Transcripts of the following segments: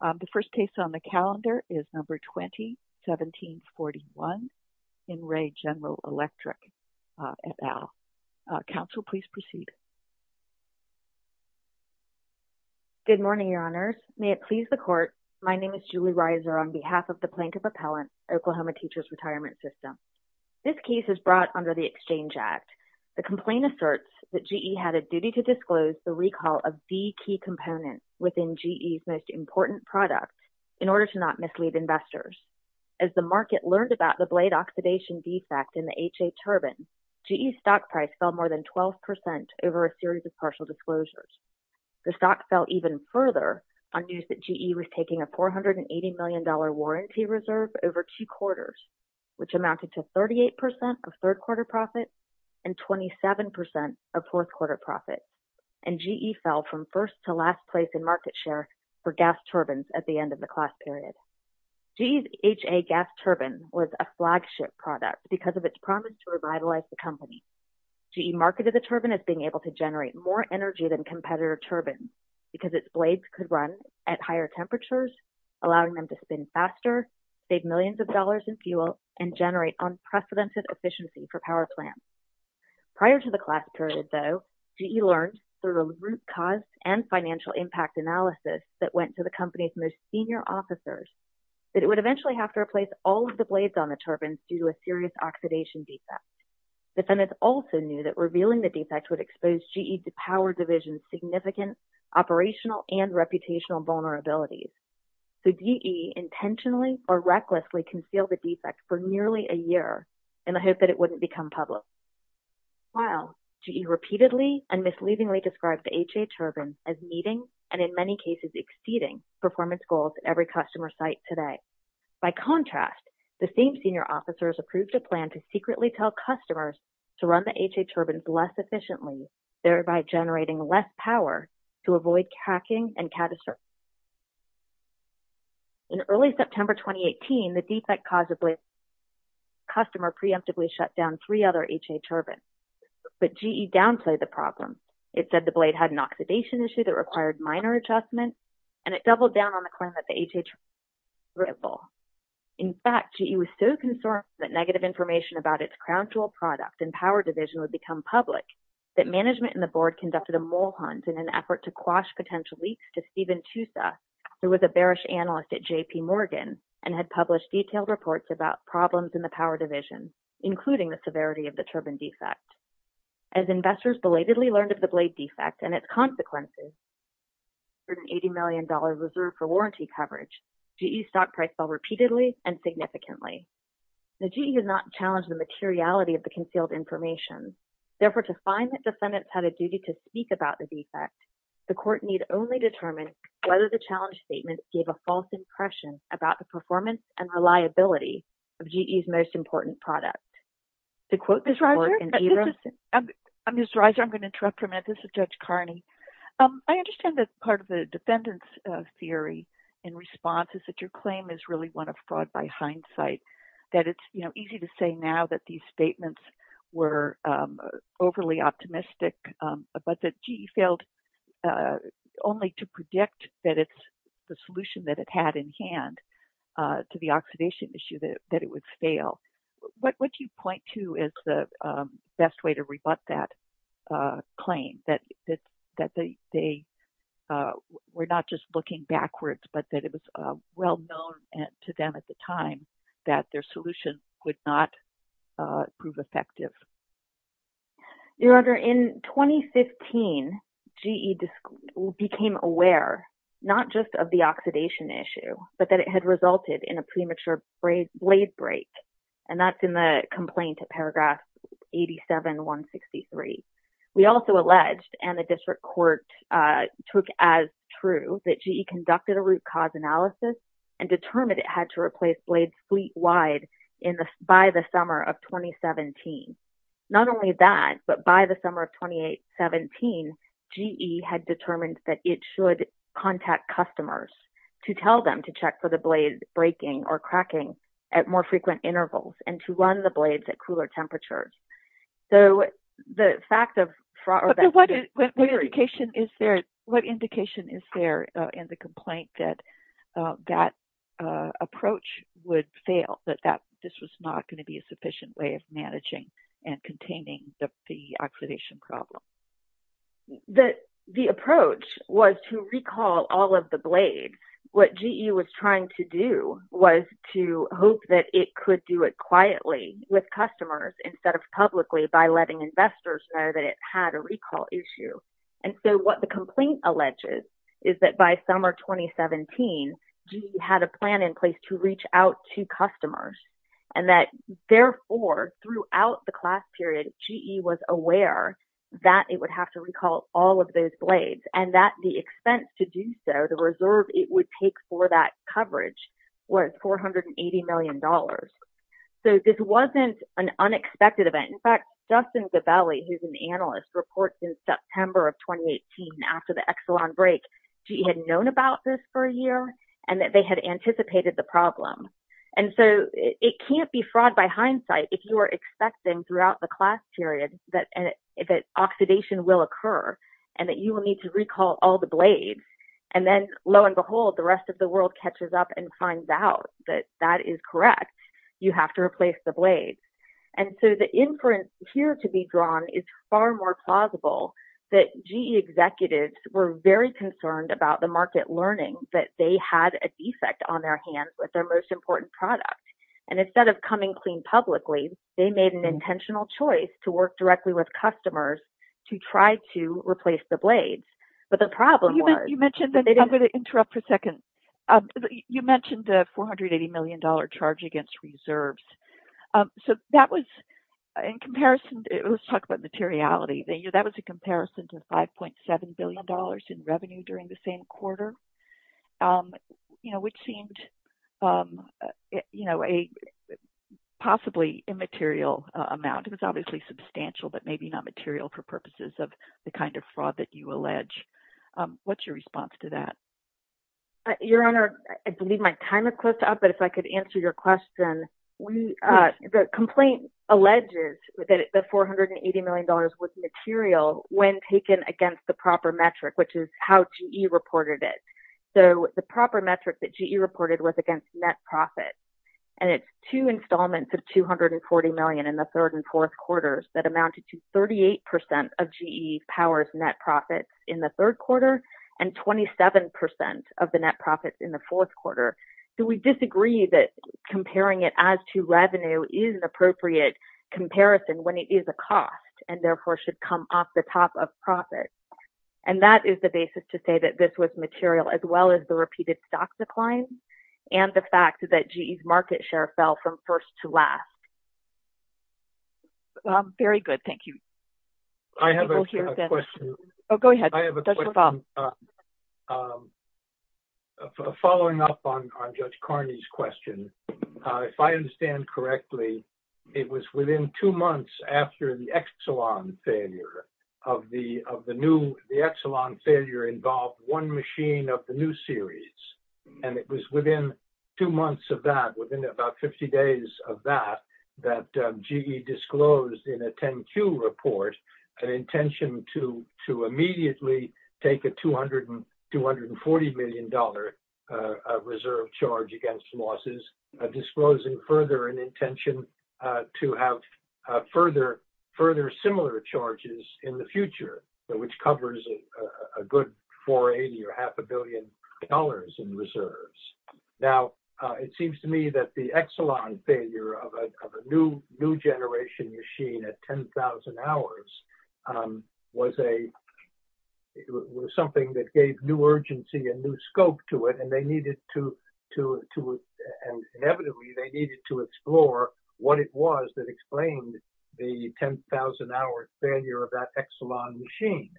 The first case on the calendar is number 20-1741 in Wray General Electric, et al. Counsel, please proceed. Good morning, Your Honors. May it please the Court, my name is Julie Reiser on behalf of the Plaintiff Appellant, Oklahoma Teachers Retirement System. This case is brought under the Exchange Act. The complaint asserts that GE had a duty to disclose the recall of the key components within GE's most important product in order to not mislead investors. As the market learned about the blade oxidation defect in the HA turbine, GE's stock price fell more than 12% over a series of partial disclosures. The stock fell even further on news that GE was taking a $480 million warranty reserve over two quarters, which amounted to 38% of third-quarter profit and 27% of fourth-quarter profit. And GE fell from first to last place in market share for gas turbines at the end of the class period. GE's HA gas turbine was a flagship product because of its promise to revitalize the company. GE marketed the turbine as being able to generate more energy than competitor turbines because its blades could run at higher temperatures, allowing them to spin faster, save millions of dollars in fuel, and generate unprecedented efficiency for power plants. Prior to the class period, though, GE learned through the root cause and financial impact analysis that went to the company's most senior officers that it would eventually have to replace all of the blades on the turbines due to a serious oxidation defect. Defendants also knew that revealing the defect would expose GE's power division's significant operational and reputational vulnerabilities. So, GE intentionally or recklessly concealed the defect for nearly a year in the hope that it wouldn't become public. While GE repeatedly and misleadingly described the HA turbine as meeting and in many cases exceeding performance goals at every customer site today, by contrast, the same senior officers approved a plan to secretly tell customers to run the HA turbines less efficiently, thereby generating less power to avoid cracking and catastrophes. In early September 2018, the defect caused a blade customer preemptively shut down three other HA turbines, but GE downplayed the problem. It said the blade had an oxidation issue that required minor adjustment, and it doubled down on the claim that the HA turbine was reliable. In fact, GE was so concerned that negative information about its crown jewel product and power division would become public that management and the board conducted a mole leaks to Steven Tusa, who was a bearish analyst at J.P. Morgan and had published detailed reports about problems in the power division, including the severity of the turbine defect. As investors belatedly learned of the blade defect and its consequences, for an $80 million reserve for warranty coverage, GE's stock price fell repeatedly and significantly. The GE did not challenge the materiality of the concealed information. Therefore, to find that defendants had a duty to speak about the defect, the court need only determine whether the challenge statement gave a false impression about the performance and reliability of GE's most important product. To quote this court in Abramson... Ms. Reiser? I'm Ms. Reiser. I'm going to interrupt for a minute. This is Judge Carney. I understand that part of the defendants' theory in response is that your claim is really one of fraud by hindsight, that it's, you know, easy to say now that these statements were overly optimistic, but that GE failed only to predict that it's the solution that it had in hand to the oxidation issue, that it would fail. What would you point to as the best way to rebut that claim, that they were not just looking backwards, but that it was well known to them at the time that their solution would not prove effective? Your Honor, in 2015, GE became aware, not just of the oxidation issue, but that it had resulted in a premature blade break, and that's in the complaint at paragraph 87-163. We also alleged, and the district court took as true, that GE conducted a root cause analysis and determined it had to replace blades fleet-wide by the summer of 2017. Not only that, but by the summer of 2017, GE had determined that it should contact customers to tell them to check for the blade breaking or cracking at more frequent intervals and to run the blades at cooler temperatures. What indication is there in the complaint that that approach would fail, that this was not going to be a sufficient way of managing and containing the oxidation problem? The approach was to recall all of the blades. What GE was trying to do was to hope that it could do it quietly with customers instead of publicly by letting investors know that it had a recall issue. What the complaint alleges is that by summer 2017, GE had a plan in place to reach out to customers, and that, therefore, throughout the class period, GE was aware that it would have to recall all of those blades, and that the expense to do so, the reserve it would take for that coverage, was $480 million. This wasn't an unexpected event. In fact, Justin Gabelli, who's an analyst, reports in September of 2018, after the Exelon break, GE had known about this for a year and that they had anticipated the problem. It can't be fraud by hindsight if you are expecting throughout the class period that oxidation will occur and that you will need to recall all the blades. Then, lo and behold, the rest of the world catches up and finds out that that is correct. You have to replace the blades. The inference here to be drawn is far more plausible that GE executives were very concerned about the market learning that they had a defect on their hands with their most important product. Instead of coming clean publicly, they made an intentional choice to work directly with customers to try to replace the blades. But the problem was- You mentioned, and I'm going to interrupt for a second. You mentioned the $480 million charge against reserves. That was, in comparison, let's talk about materiality. That was a comparison to $5.7 billion in revenue during the same quarter, which seemed a possibly immaterial amount. It was obviously substantial, but maybe not material for purposes of the kind of fraud that you allege. What's your response to that? Your Honor, I believe my time has closed up, but if I could answer your question. The complaint alleges that the $480 million was material when taken against the proper metric, which is how GE reported it. The proper metric that GE reported was against net profit. It's two installments of $240 million in the third and fourth quarters that amounted to in the third quarter, and 27% of the net profits in the fourth quarter. So we disagree that comparing it as to revenue is an appropriate comparison when it is a cost, and therefore should come off the top of profit. And that is the basis to say that this was material, as well as the repeated stock declines and the fact that GE's market share fell from first to last. Very good. Thank you. I have a question. Oh, go ahead. Dr. Baum. Following up on Judge Carney's question, if I understand correctly, it was within two months after the Exelon failure of the new... The Exelon failure involved one machine of the new series, and it was within two months of that, within about 50 days of that, that GE disclosed in a 10Q report an intention to immediately take a $240 million reserve charge against losses, disclosing further an intention to have further similar charges in the future, which covers a good $480 or half a billion in reserves. Now, it seems to me that the Exelon failure of a new generation machine at 10,000 hours was something that gave new urgency and new scope to it, and inevitably, they needed to explore what it was that explained the 10,000-hour failure of that Exelon machine,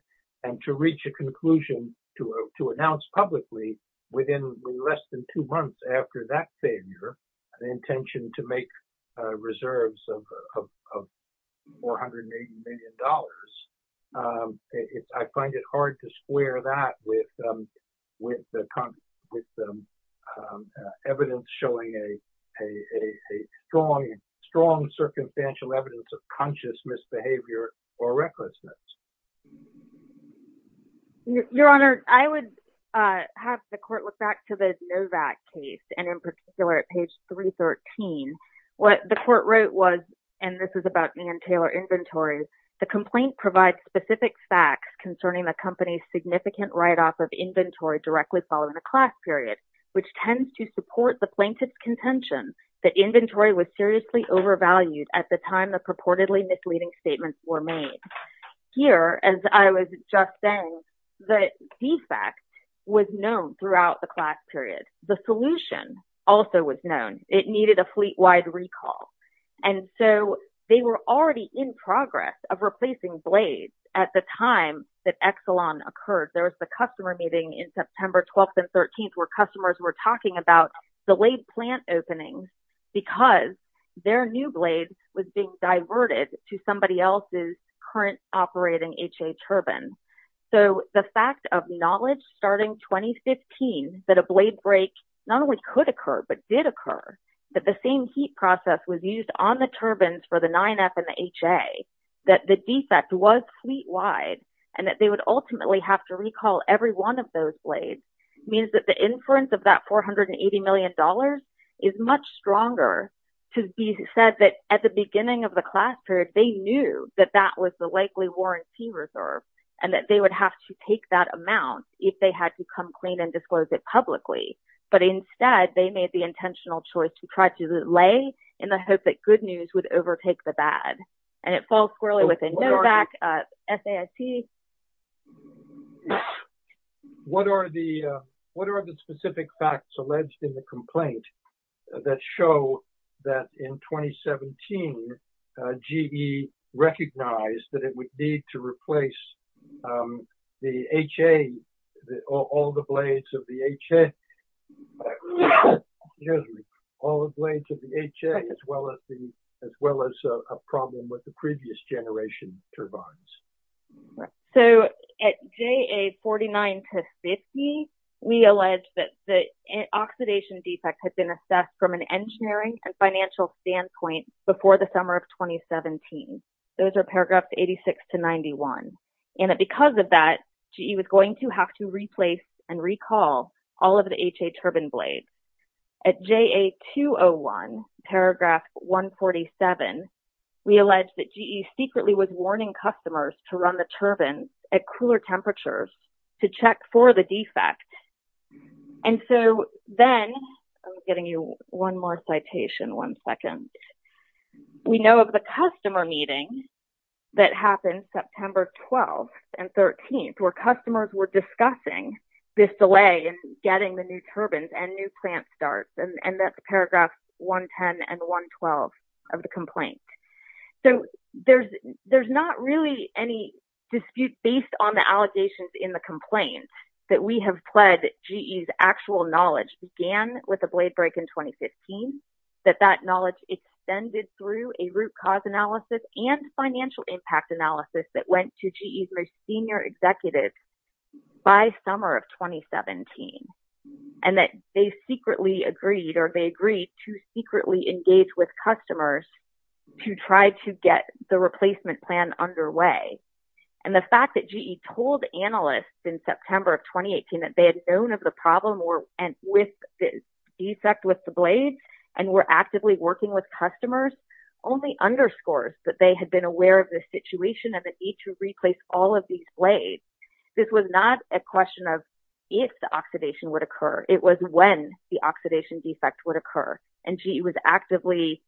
and to reach a conclusion, to announce publicly within less than two months after that failure, an intention to make reserves of $480 million. I find it hard to square that with evidence showing a strong, strong circumstantial evidence of conscious misbehavior or recklessness. Your Honor, I would have the Court look back to the Novak case, and in particular, at page 313, what the Court wrote was, and this is about Ann Taylor Inventory, the complaint provides specific facts concerning the company's significant write-off of inventory directly following a class period, which tends to support the plaintiff's contention that inventory was seriously overvalued at the time the purportedly misleading statements were made. Here, as I was just saying, the defect was known throughout the class period. The solution also was known. It needed a fleet-wide recall, and so, they were already in progress of replacing blades at the time that Exelon occurred. There was the customer meeting in September 12th and 13th where customers were talking about delayed plant openings because their new blade was being diverted to somebody else's current operating HA turbine. So, the fact of knowledge starting 2015 that a blade break not only could occur, but did occur, that the same heat process was used on the turbines for the 9F and the HA, that the defect was fleet-wide, and that they would ultimately have to recall every one of those blades, means that the inference of that $480 million is much stronger to be said that at the beginning of the class period, they knew that that was the likely warranty reserve and that they would have to take that amount if they had to come clean and disclose it publicly. But instead, they made the intentional choice to try to delay in the hope that good news would overtake the bad. And it falls squarely within Novak, SAIC. What are the specific facts alleged in the complaint that show that in 2017, GE recognized that it would need to replace the HA, all the blades of the HA, as well as a problem with the previous generation turbines? So, at JA 49 to 50, we allege that the oxidation defect had been assessed from an engineering and financial standpoint before the summer of 2017. Those are paragraphs 86 to 91. And because of that, GE was going to have to replace and recall all of the HA turbine blades. At JA 201, paragraph 147, we allege that GE secretly was warning customers to run the turbines at cooler temperatures to check for the defect. And so, then, I'm getting you one more citation, one second. We know of the customer meeting that happened September 12th and 13th, where customers were and that's paragraph 110 and 112 of the complaint. So, there's not really any dispute based on the allegations in the complaint that we have pled that GE's actual knowledge began with a blade break in 2015, that that knowledge extended through a root cause analysis and financial impact analysis that went to GE's senior executives by summer of 2017. And that they secretly agreed or they agreed to secretly engage with customers to try to get the replacement plan underway. And the fact that GE told analysts in September of 2018 that they had known of the problem with the defect with the blades and were actively working with customers only underscores that they had been aware of the situation and the need to replace all of these blades. This was not a question of if the oxidation would occur. It was when the oxidation defect would occur. And GE was actively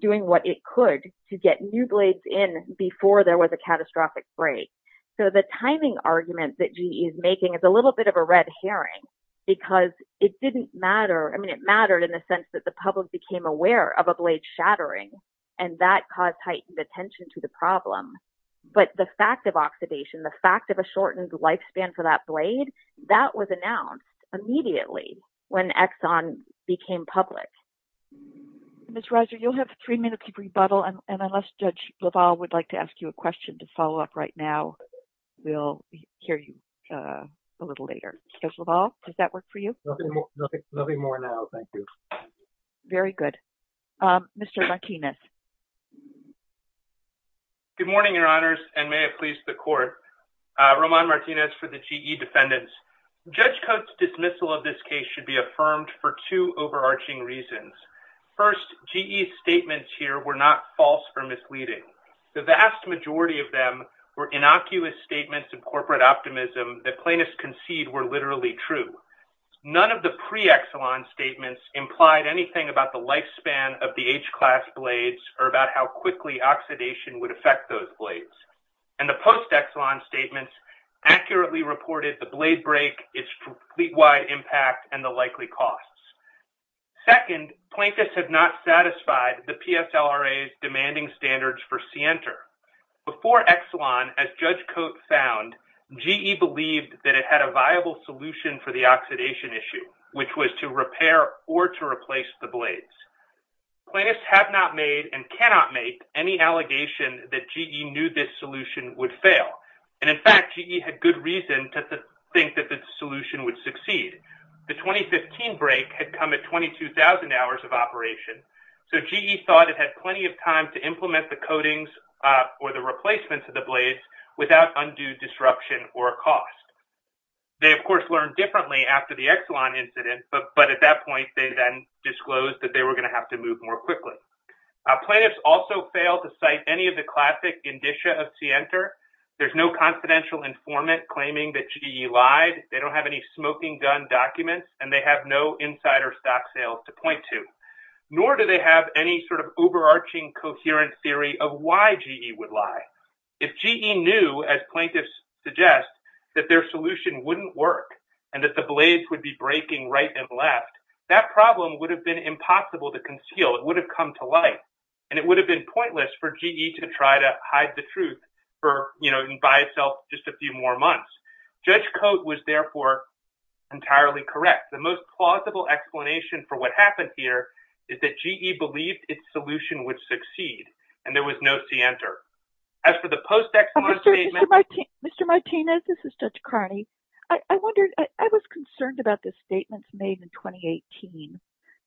doing what it could to get new blades in before there was a catastrophic break. So, the timing argument that GE is making is a little bit of a red herring because it didn't matter. I mean, it mattered in the sense that the public became aware of a blade shattering and that caused heightened attention to the problem. But the fact of oxidation, the fact of a shortened lifespan for that blade, that was announced immediately when Exxon became public. Ms. Reiser, you'll have three minutes to rebuttal and unless Judge LaValle would like to ask you a question to follow up right now, we'll hear you a little later. Judge LaValle, does that work for you? Nothing more now, thank you. Very good. Mr. Martinez. Good morning, Your Honors, and may it please the Court. Roman Martinez for the GE defendants. Judge Cote's dismissal of this case should be affirmed for two overarching reasons. First, GE's statements here were not false or misleading. The vast majority of them were innocuous statements of corporate optimism that plaintiffs concede were literally true. None of the pre-Exxon statements implied anything about the lifespan of the H-class blades or about how quickly oxidation would affect those blades. And the post-Exxon statements accurately reported the blade break, its fleet-wide impact, and the likely costs. Second, plaintiffs have not satisfied the PSLRA's demanding standards for Sienter. Before Exxon, as Judge Cote found, GE believed that it had a viable solution for the oxidation issue, which was to repair or to replace the blades. Plaintiffs have not made and cannot make any allegation that GE knew this solution would fail. And in fact, GE had good reason to think that this solution would succeed. The 2015 break had come at 22,000 hours of operation, so GE thought it had plenty of time to implement the coatings or the replacements of the blades without undue disruption or cost. They, of course, learned differently after the Exxon incident, but at that point, they then disclosed that they were going to have to move more quickly. Plaintiffs also failed to cite any of the classic indicia of Sienter. There's no confidential informant claiming that GE lied. They don't have any smoking gun documents, and they have no insider stock sales to point nor do they have any sort of overarching coherent theory of why GE would lie. If GE knew, as plaintiffs suggest, that their solution wouldn't work and that the blades would be breaking right and left, that problem would have been impossible to conceal. It would have come to light, and it would have been pointless for GE to try to hide the truth for, you know, by itself just a few more months. Judge Cote was therefore entirely correct. The most plausible explanation for what happened here is that GE believed its solution would succeed, and there was no Sienter. As for the post-Exxon statement— Mr. Martinez, this is Judge Carney. I was concerned about the statements made in 2018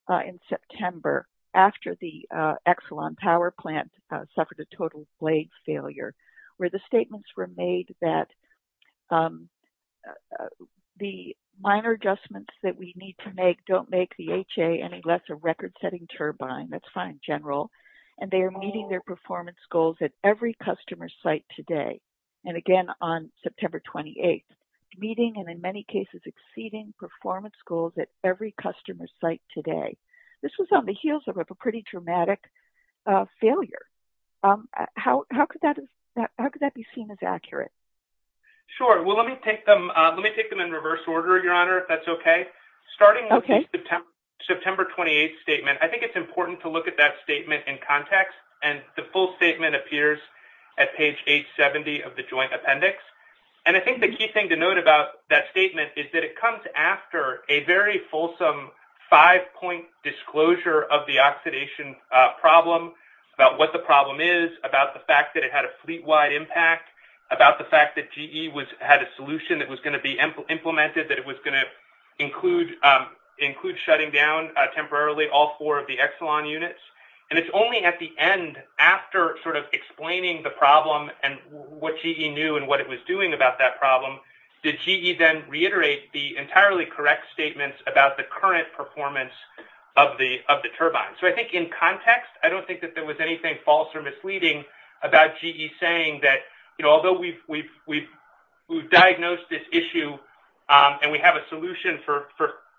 in September after the Exxon power plant suffered a total blade failure, where the statements were made that the minor adjustments that we need to make don't make the HA any less a record-setting turbine—that's fine, General—and they are meeting their performance goals at every customer site today, and again on September 28th, meeting and in many cases exceeding performance goals at every customer site today. This was on the heels of a pretty dramatic failure. How could that be seen as accurate? Sure. Let me take them in reverse order, Your Honor, if that's okay. Starting with the September 28th statement, I think it's important to look at that statement in context, and the full statement appears at page 870 of the Joint Appendix, and I think the key thing to note about that statement is that it comes after a very fulsome five-point disclosure of the oxidation problem, about what the problem is, about the fact that it had a fleet-wide impact, about the fact that GE had a solution that was going to be implemented that it was going to include shutting down temporarily all four of the Exxon units, and it's only at the end, after sort of explaining the problem and what GE knew and what it was doing about that problem, did GE then reiterate the entirely correct statements about the current performance of the turbine. I think in context, I don't think that there was anything false or misleading about GE saying that although we've diagnosed this issue and we have a solution for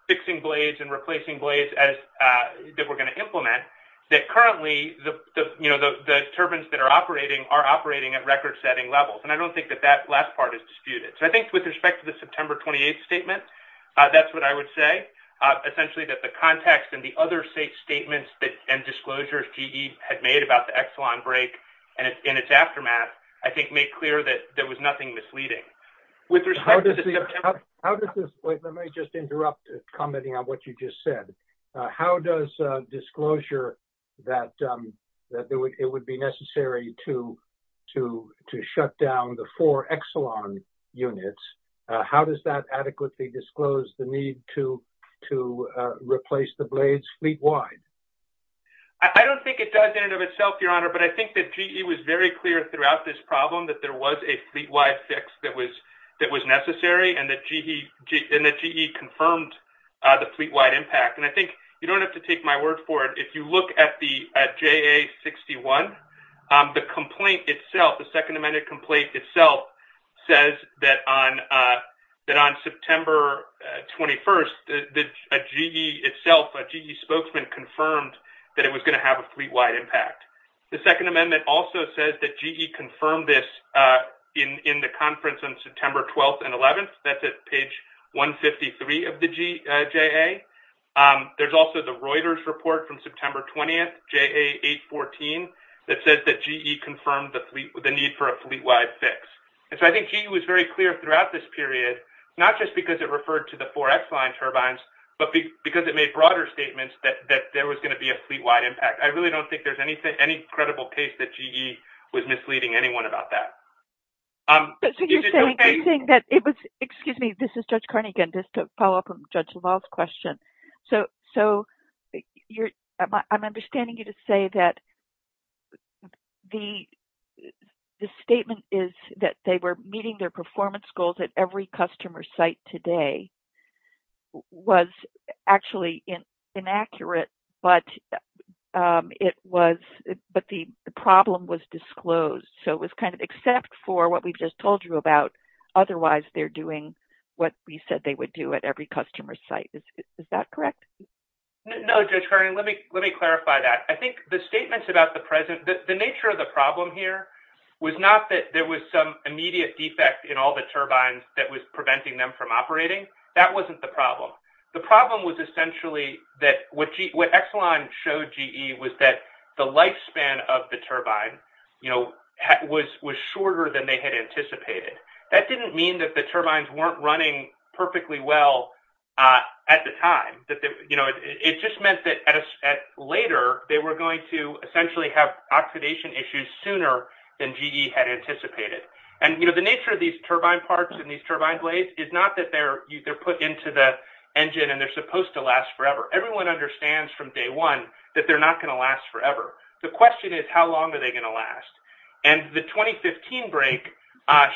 fixing blades and replacing blades that we're going to implement, that currently the turbines that are operating are operating at record-setting levels, and I don't think that that last part is disputed. I think with respect to the September 28th statement, that's what I would say, essentially that the context and the other statements and disclosures GE had made about the Exxon break and its aftermath, I think, made clear that there was nothing misleading. With respect to the September... How does this... Wait, let me just interrupt, commenting on what you just said. How does disclosure that it would be necessary to shut down the four Exxon units, how does that adequately disclose the need to replace the blades fleet-wide? I don't think it does in and of itself, Your Honor, but I think that GE was very clear throughout this problem that there was a fleet-wide fix that was necessary and that GE confirmed the fleet-wide impact. And I think, you don't have to take my word for it, if you look at the JA61, the complaint itself says that on September 21st, a GE itself, a GE spokesman confirmed that it was going to have a fleet-wide impact. The Second Amendment also says that GE confirmed this in the conference on September 12th and 11th, that's at page 153 of the JA. There's also the Reuters report from September 20th, JA814, that says that GE confirmed the need for a fleet-wide fix. And so, I think GE was very clear throughout this period, not just because it referred to the four Exline turbines, but because it made broader statements that there was going to be a fleet-wide impact. I really don't think there's any credible case that GE was misleading anyone about that. Is it okay- So, you're saying that it was, excuse me, this is Judge Carnegan, just to follow up on Judge LaValle's question. So, I'm understanding you to say that the statement is that they were meeting their performance goals at every customer site today was actually inaccurate, but the problem was disclosed. So, it was kind of except for what we've just told you about. Otherwise, they're doing what we said they would do at every customer site. Is that correct? No, Judge Carnegan, let me clarify that. I think the statements about the nature of the problem here was not that there was some immediate defect in all the turbines that was preventing them from operating. That wasn't the problem. The problem was essentially that what Exline showed GE was that the lifespan of the turbine was shorter than they had anticipated. That didn't mean that the turbines weren't running perfectly well at the time. It just meant that later, they were going to essentially have oxidation issues sooner than GE had anticipated. The nature of these turbine parts and these turbine blades is not that they're put into the engine and they're supposed to last forever. Everyone understands from day one that they're not going to last forever. The question is, how long are they going to last? The 2015 break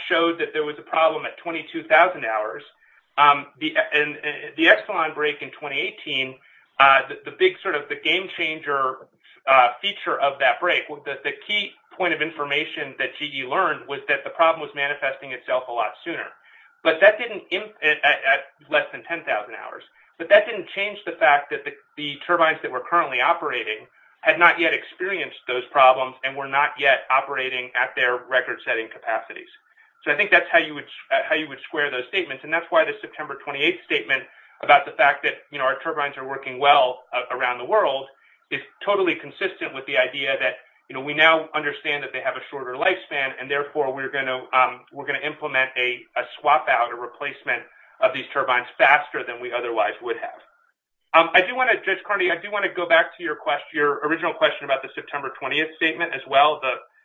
showed that there was a problem at 22,000 hours. The Exline break in 2018, the game-changer feature of that break, the key point of information that GE learned was that the problem was manifesting itself a lot sooner at less than 10,000 hours. That didn't change the fact that the turbines that were currently operating had not yet operated at their record-setting capacities. I think that's how you would square those statements. That's why the September 28th statement about the fact that our turbines are working well around the world is totally consistent with the idea that we now understand that they have a shorter lifespan. Therefore, we're going to implement a swap-out, a replacement of these turbines faster than we otherwise would have. Judge Carney, I do want to go back to your original question about the September 20th statement as well.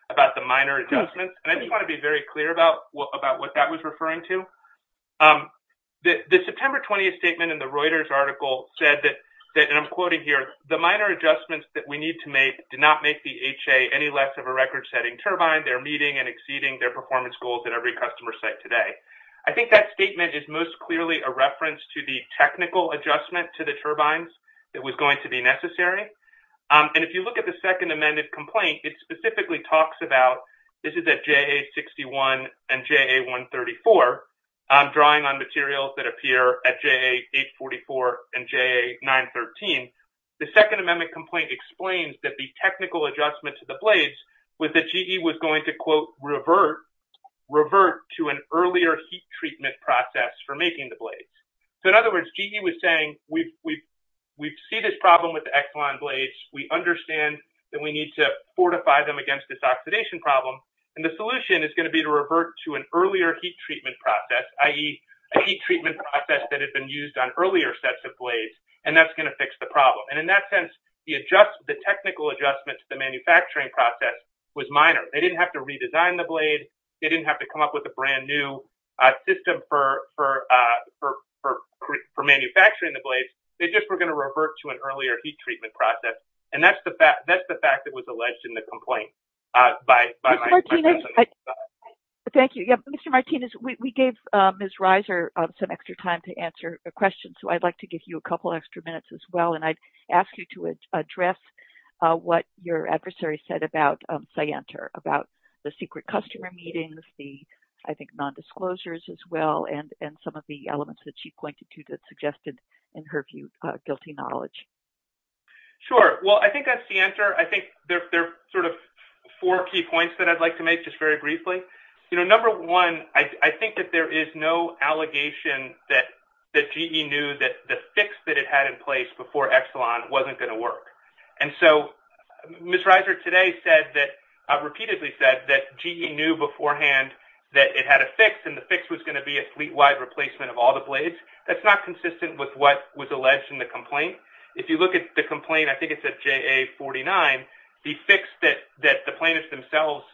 About the minor adjustments. I just want to be very clear about what that was referring to. The September 20th statement in the Reuters article said that, and I'm quoting here, the minor adjustments that we need to make did not make the HA any less of a record-setting turbine. They're meeting and exceeding their performance goals at every customer site today. I think that statement is most clearly a reference to the technical adjustment to the turbines that was going to be necessary. If you look at the second amended complaint, it specifically talks about, this is at JA61 and JA134, drawing on materials that appear at JA844 and JA913. The second amendment complaint explains that the technical adjustment to the blades was that GE was going to, quote, revert to an earlier heat treatment process for making the blades. In other words, GE was saying, we see this problem with the Exelon blades. We understand that we need to fortify them against this oxidation problem. The solution is going to be to revert to an earlier heat treatment process, i.e., a heat treatment process that had been used on earlier sets of blades. That's going to fix the problem. In that sense, the technical adjustment to the manufacturing process was minor. They didn't have to redesign the blade. They didn't have to come up with a brand new system for manufacturing the blades. They just were going to revert to an earlier heat treatment process. That's the fact that was alleged in the complaint by my testimony. Thank you. Mr. Martinez, we gave Ms. Reiser some extra time to answer a question, so I'd like to give you a couple extra minutes as well. I'd ask you to address what your adversary said about Cyanter, about the secret customer meetings, the non-disclosures as well, and some of the elements that she pointed to that suggested, in her view, guilty knowledge. Sure. I think on Cyanter, there are four key points that I'd like to make, just very briefly. Number one, I think that there is no allegation that GE knew that the fix that it had in place before Exelon wasn't going to work. So Ms. Reiser today repeatedly said that GE knew beforehand that it had a fix, and the fix was going to be a fleet-wide replacement of all the blades. That's not consistent with what was alleged in the complaint. If you look at the complaint, I think it's at JA-49, the fix that the plaintiffs themselves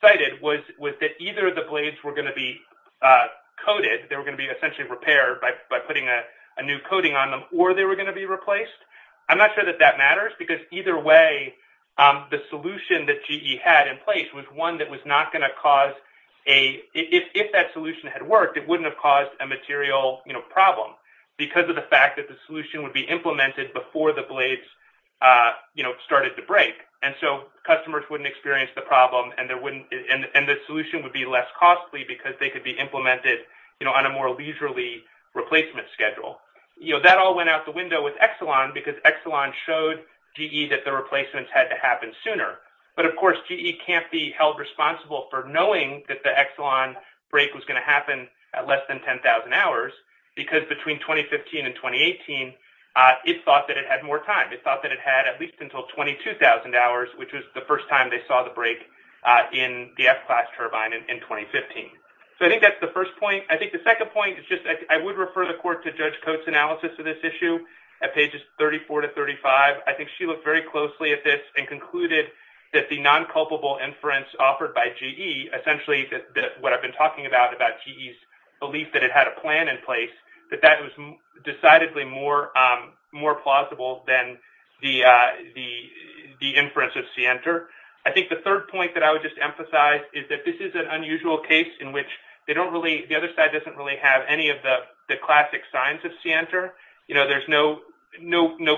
cited was that either the blades were going to be coated, they were going to be essentially repaired by putting a new coating on them, or they were going to be replaced. I'm not sure that that matters, because either way, the solution that GE had in place was one that was not going to cause a – if that solution had worked, it wouldn't have caused a material problem, because of the fact that the solution would be implemented before the blades started to break. And so customers wouldn't experience the problem, and the solution would be less costly because they could be implemented on a more leisurely replacement schedule. That all went out the window with Exelon, because Exelon showed GE that the replacements had to happen sooner. But of course, GE can't be held responsible for knowing that the Exelon break was going to happen at less than 10,000 hours, because between 2015 and 2018, it thought that it had more time. It thought that it had at least until 22,000 hours, which was the first time they saw the break in the F-Class turbine in 2015. So I think that's the first point. I think the second point is just – I would refer the court to Judge Coates' analysis of this issue at pages 34 to 35. I think she looked very closely at this and concluded that the non-culpable inference offered by GE, essentially what I've been talking about, about GE's belief that it had a plan in place, that that was decidedly more plausible than the inference of Sienter. I think the third point that I would just emphasize is that this is an unusual case in which they don't really – the other side doesn't really have any of the classic signs of Sienter. There's no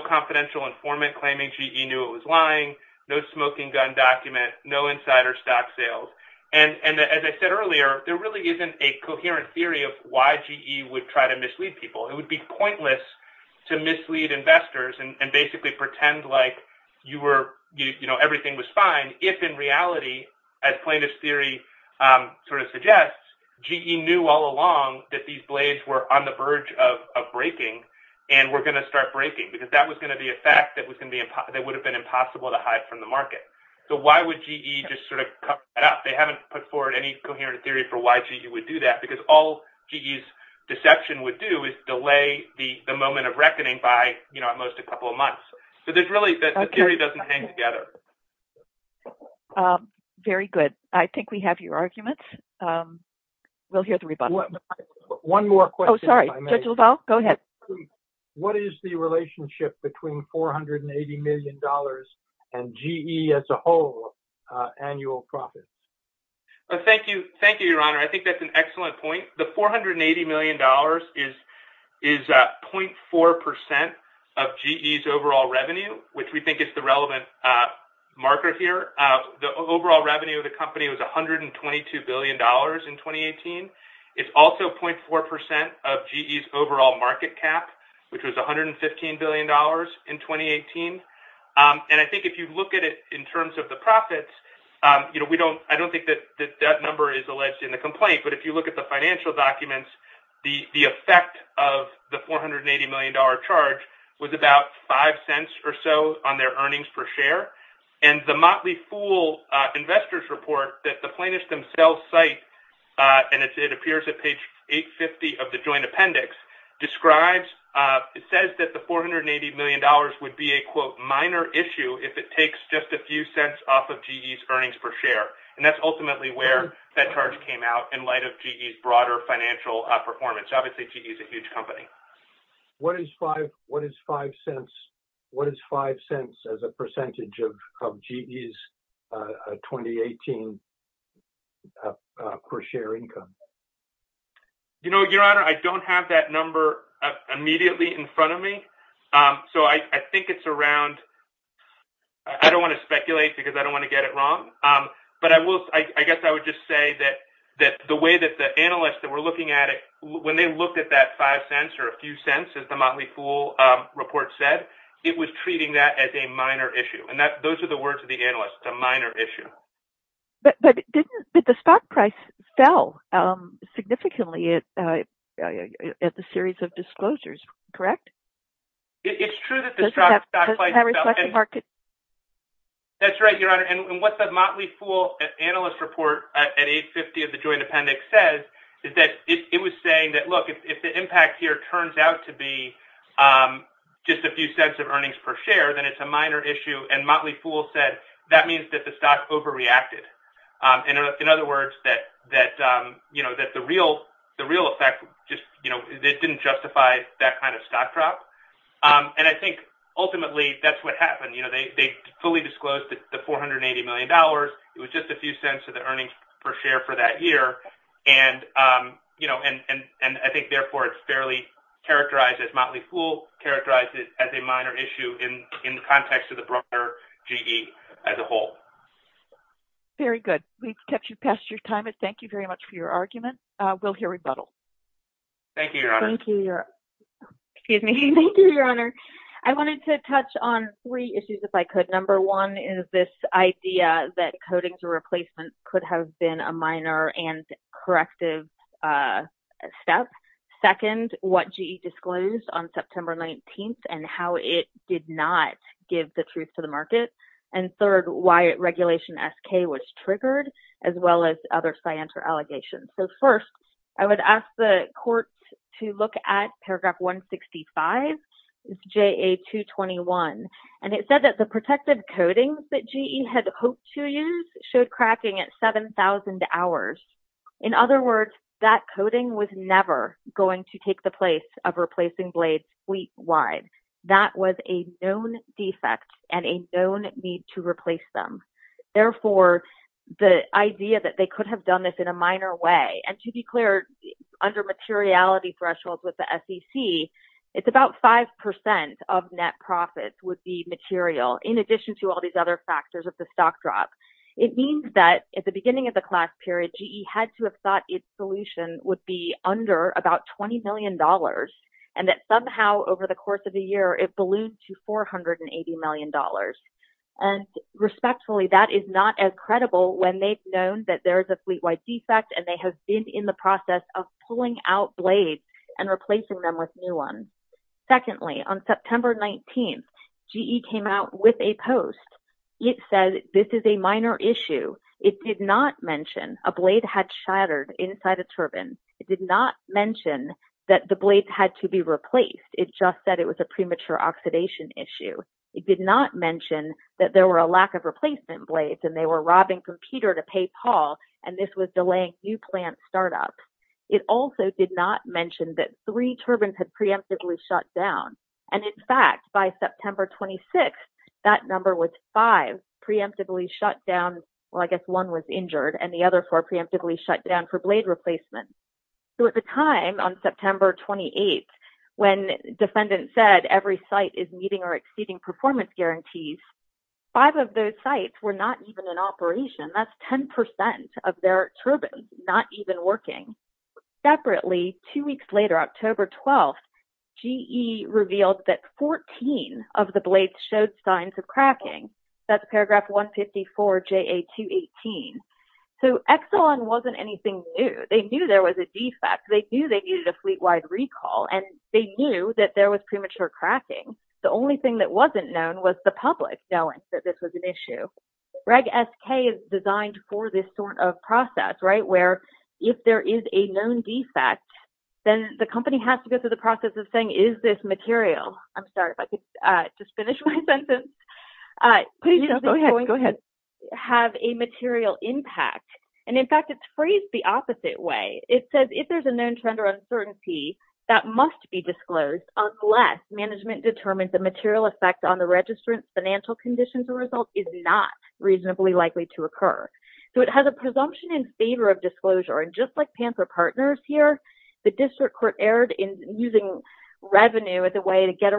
confidential informant claiming GE knew it was lying, no smoking gun document, no insider stock sales. And as I said earlier, there really isn't a coherent theory of why GE would try to mislead people. It would be pointless to mislead investors and basically pretend like everything was fine if in reality, as plaintiff's theory sort of suggests, GE knew all along that these blades were on the verge of breaking and were going to start breaking because that was going to be a fact that would have been impossible to hide from the market. So why would GE just sort of cut that out? They haven't put forward any coherent theory for why GE would do that because all GE's deception would do is delay the moment of reckoning by at most a couple of months. So there's really – the theory doesn't hang together. Very good. I think we have your arguments. We'll hear the rebuttal. One more question if I may. Oh, sorry. Judge LaValle, go ahead. What is the relationship between $480 million and GE as a whole annual profit? Thank you. Thank you, Your Honor. I think that's an excellent point. The $480 million is 0.4% of GE's overall revenue, which we think is the relevant marker here. The overall revenue of the company was $122 billion in 2018. It's also 0.4% of GE's overall market cap, which was $115 billion in 2018. And I think if you look at it in terms of the profits, I don't think that that number is alleged in the complaint. But if you look at the financial documents, the effect of the $480 million charge was about $0.05 or so on their earnings per share. And the Motley Fool Investors Report that the plaintiffs themselves cite, and it appears at page 850 of the joint appendix, describes – it says that the $480 million would be a, quote, minor issue if it takes just a few cents off of GE's earnings per share. And that's ultimately where that charge came out in light of GE's broader financial performance. Obviously, GE's a huge company. What is $0.05 as a percentage of GE's 2018 per share income? You know, Your Honor, I don't have that number immediately in front of me. So I think it's around – I don't want to speculate because I don't want to get it wrong. But I will – I guess I would just say that the way that the analysts that were looking at it, when they looked at that $0.05 or a few cents, as the Motley Fool Report said, it was treating that as a minor issue. And that – those are the words of the analyst, a minor issue. But didn't – but the stock price fell significantly at the series of disclosures, correct? It's true that the stock price fell. Doesn't that reflect the market? That's right, Your Honor. And what the Motley Fool analyst report at 8.50 of the joint appendix says is that it was saying that, look, if the impact here turns out to be just a few cents of earnings per share, then it's a minor issue. And Motley Fool said that means that the stock overreacted. In other words, that the real effect just – it didn't justify that kind of stock drop. And I think ultimately that's what happened. They fully disclosed the $480 million. It was just a few cents of the earnings per share for that year. And I think, therefore, it's fairly characterized as – Motley Fool characterized it as a minor issue in the context of the broader GE as a whole. Very good. We've kept you past your time, and thank you very much for your argument. We'll hear rebuttal. Thank you, Your Honor. Thank you, Your – excuse me. Thank you, Your Honor. I wanted to touch on three issues, if I could. Number one is this idea that coding for replacement could have been a minor and corrective step. Second, what GE disclosed on September 19th and how it did not give the truth to the market. And third, why Regulation SK was triggered, as well as other scienter allegations. So, first, I would ask the court to look at paragraph 165 of JA-221, and it said that the protective coatings that GE had hoped to use showed cracking at 7,000 hours. In other words, that coating was never going to take the place of replacing blades feet wide. That was a known defect and a known need to replace them. Therefore, the idea that they could have done this in a minor way – and to be clear, under materiality thresholds with the SEC, it's about 5% of net profits would be material, in addition to all these other factors of the stock drop. It means that at the beginning of the class period, GE had to have thought its solution would be under about $20 million, and that somehow over the course of the year, it ballooned to $480 million. And respectfully, that is not as credible when they've known that there is a fleet-wide defect, and they have been in the process of pulling out blades and replacing them with new ones. Secondly, on September 19th, GE came out with a post. It said, this is a minor issue. It did not mention a blade had shattered inside a turbine. It did not mention that the blades had to be replaced. It just said it was a premature oxidation issue. It did not mention that there were a lack of replacement blades, and they were robbing computer to pay Paul, and this was delaying new plant startup. It also did not mention that three turbines had preemptively shut down. And in fact, by September 26th, that number was five preemptively shut down – well, I guess one was injured, and the other four preemptively shut down for blade replacement. So at the time, on September 28th, when defendants said every site is meeting or exceeding performance guarantees, five of those sites were not even in operation. That's 10% of their turbines not even working. Separately, two weeks later, October 12th, GE revealed that 14 of the blades showed signs of cracking. That's paragraph 154, JA 218. So Exelon wasn't anything new. They knew there was a defect. They knew they needed a fleet-wide recall, and they knew that there was premature cracking. The only thing that wasn't known was the public knowing that this was an issue. Reg SK is designed for this sort of process, right, where if there is a known defect, then the company has to go through the process of saying, is this material – I'm sorry, if I could just finish my sentence – is this going to have a material impact? And in fact, it's phrased the opposite way. It says if there's a known trend or uncertainty, that must be disclosed unless management determines the material effect on the registrant's financial conditions, the result is not reasonably likely to occur. So it has a presumption in favor of disclosure. And just like Panther Partners here, the district court erred in using revenue as a way to get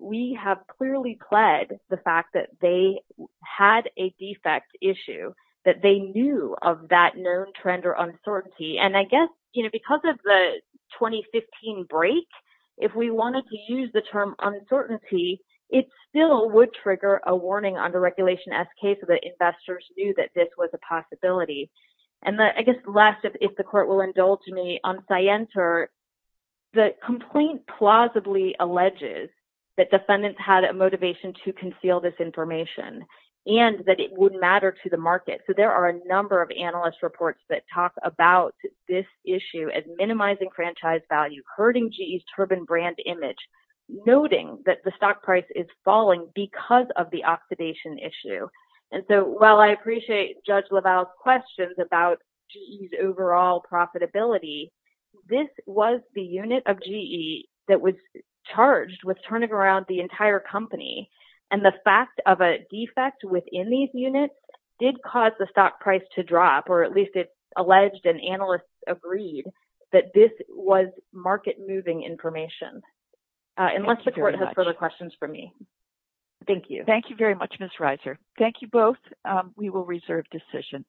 We have clearly pled the fact that they had a defect issue, that they knew of that known trend or uncertainty. And I guess, you know, because of the 2015 break, if we wanted to use the term uncertainty, it still would trigger a warning under Regulation SK so that investors knew that this was a possibility. And I guess last, if the court will indulge me, on Scienter, the complaint plausibly alleges that defendants had a motivation to conceal this information and that it would matter to the market. So there are a number of analyst reports that talk about this issue as minimizing franchise value, hurting GE's turbine brand image, noting that the stock price is falling because of the oxidation issue. And so while I appreciate Judge LaValle's questions about GE's overall profitability, this was the unit of GE that was charged with turning around the entire company. And the fact of a defect within these units did cause the stock price to drop, or at least it's alleged, and analysts agreed, that this was market-moving information. Unless the court has further questions for me. Thank you. Thank you very much, Ms. Reiser. Thank you both. We will reserve decision.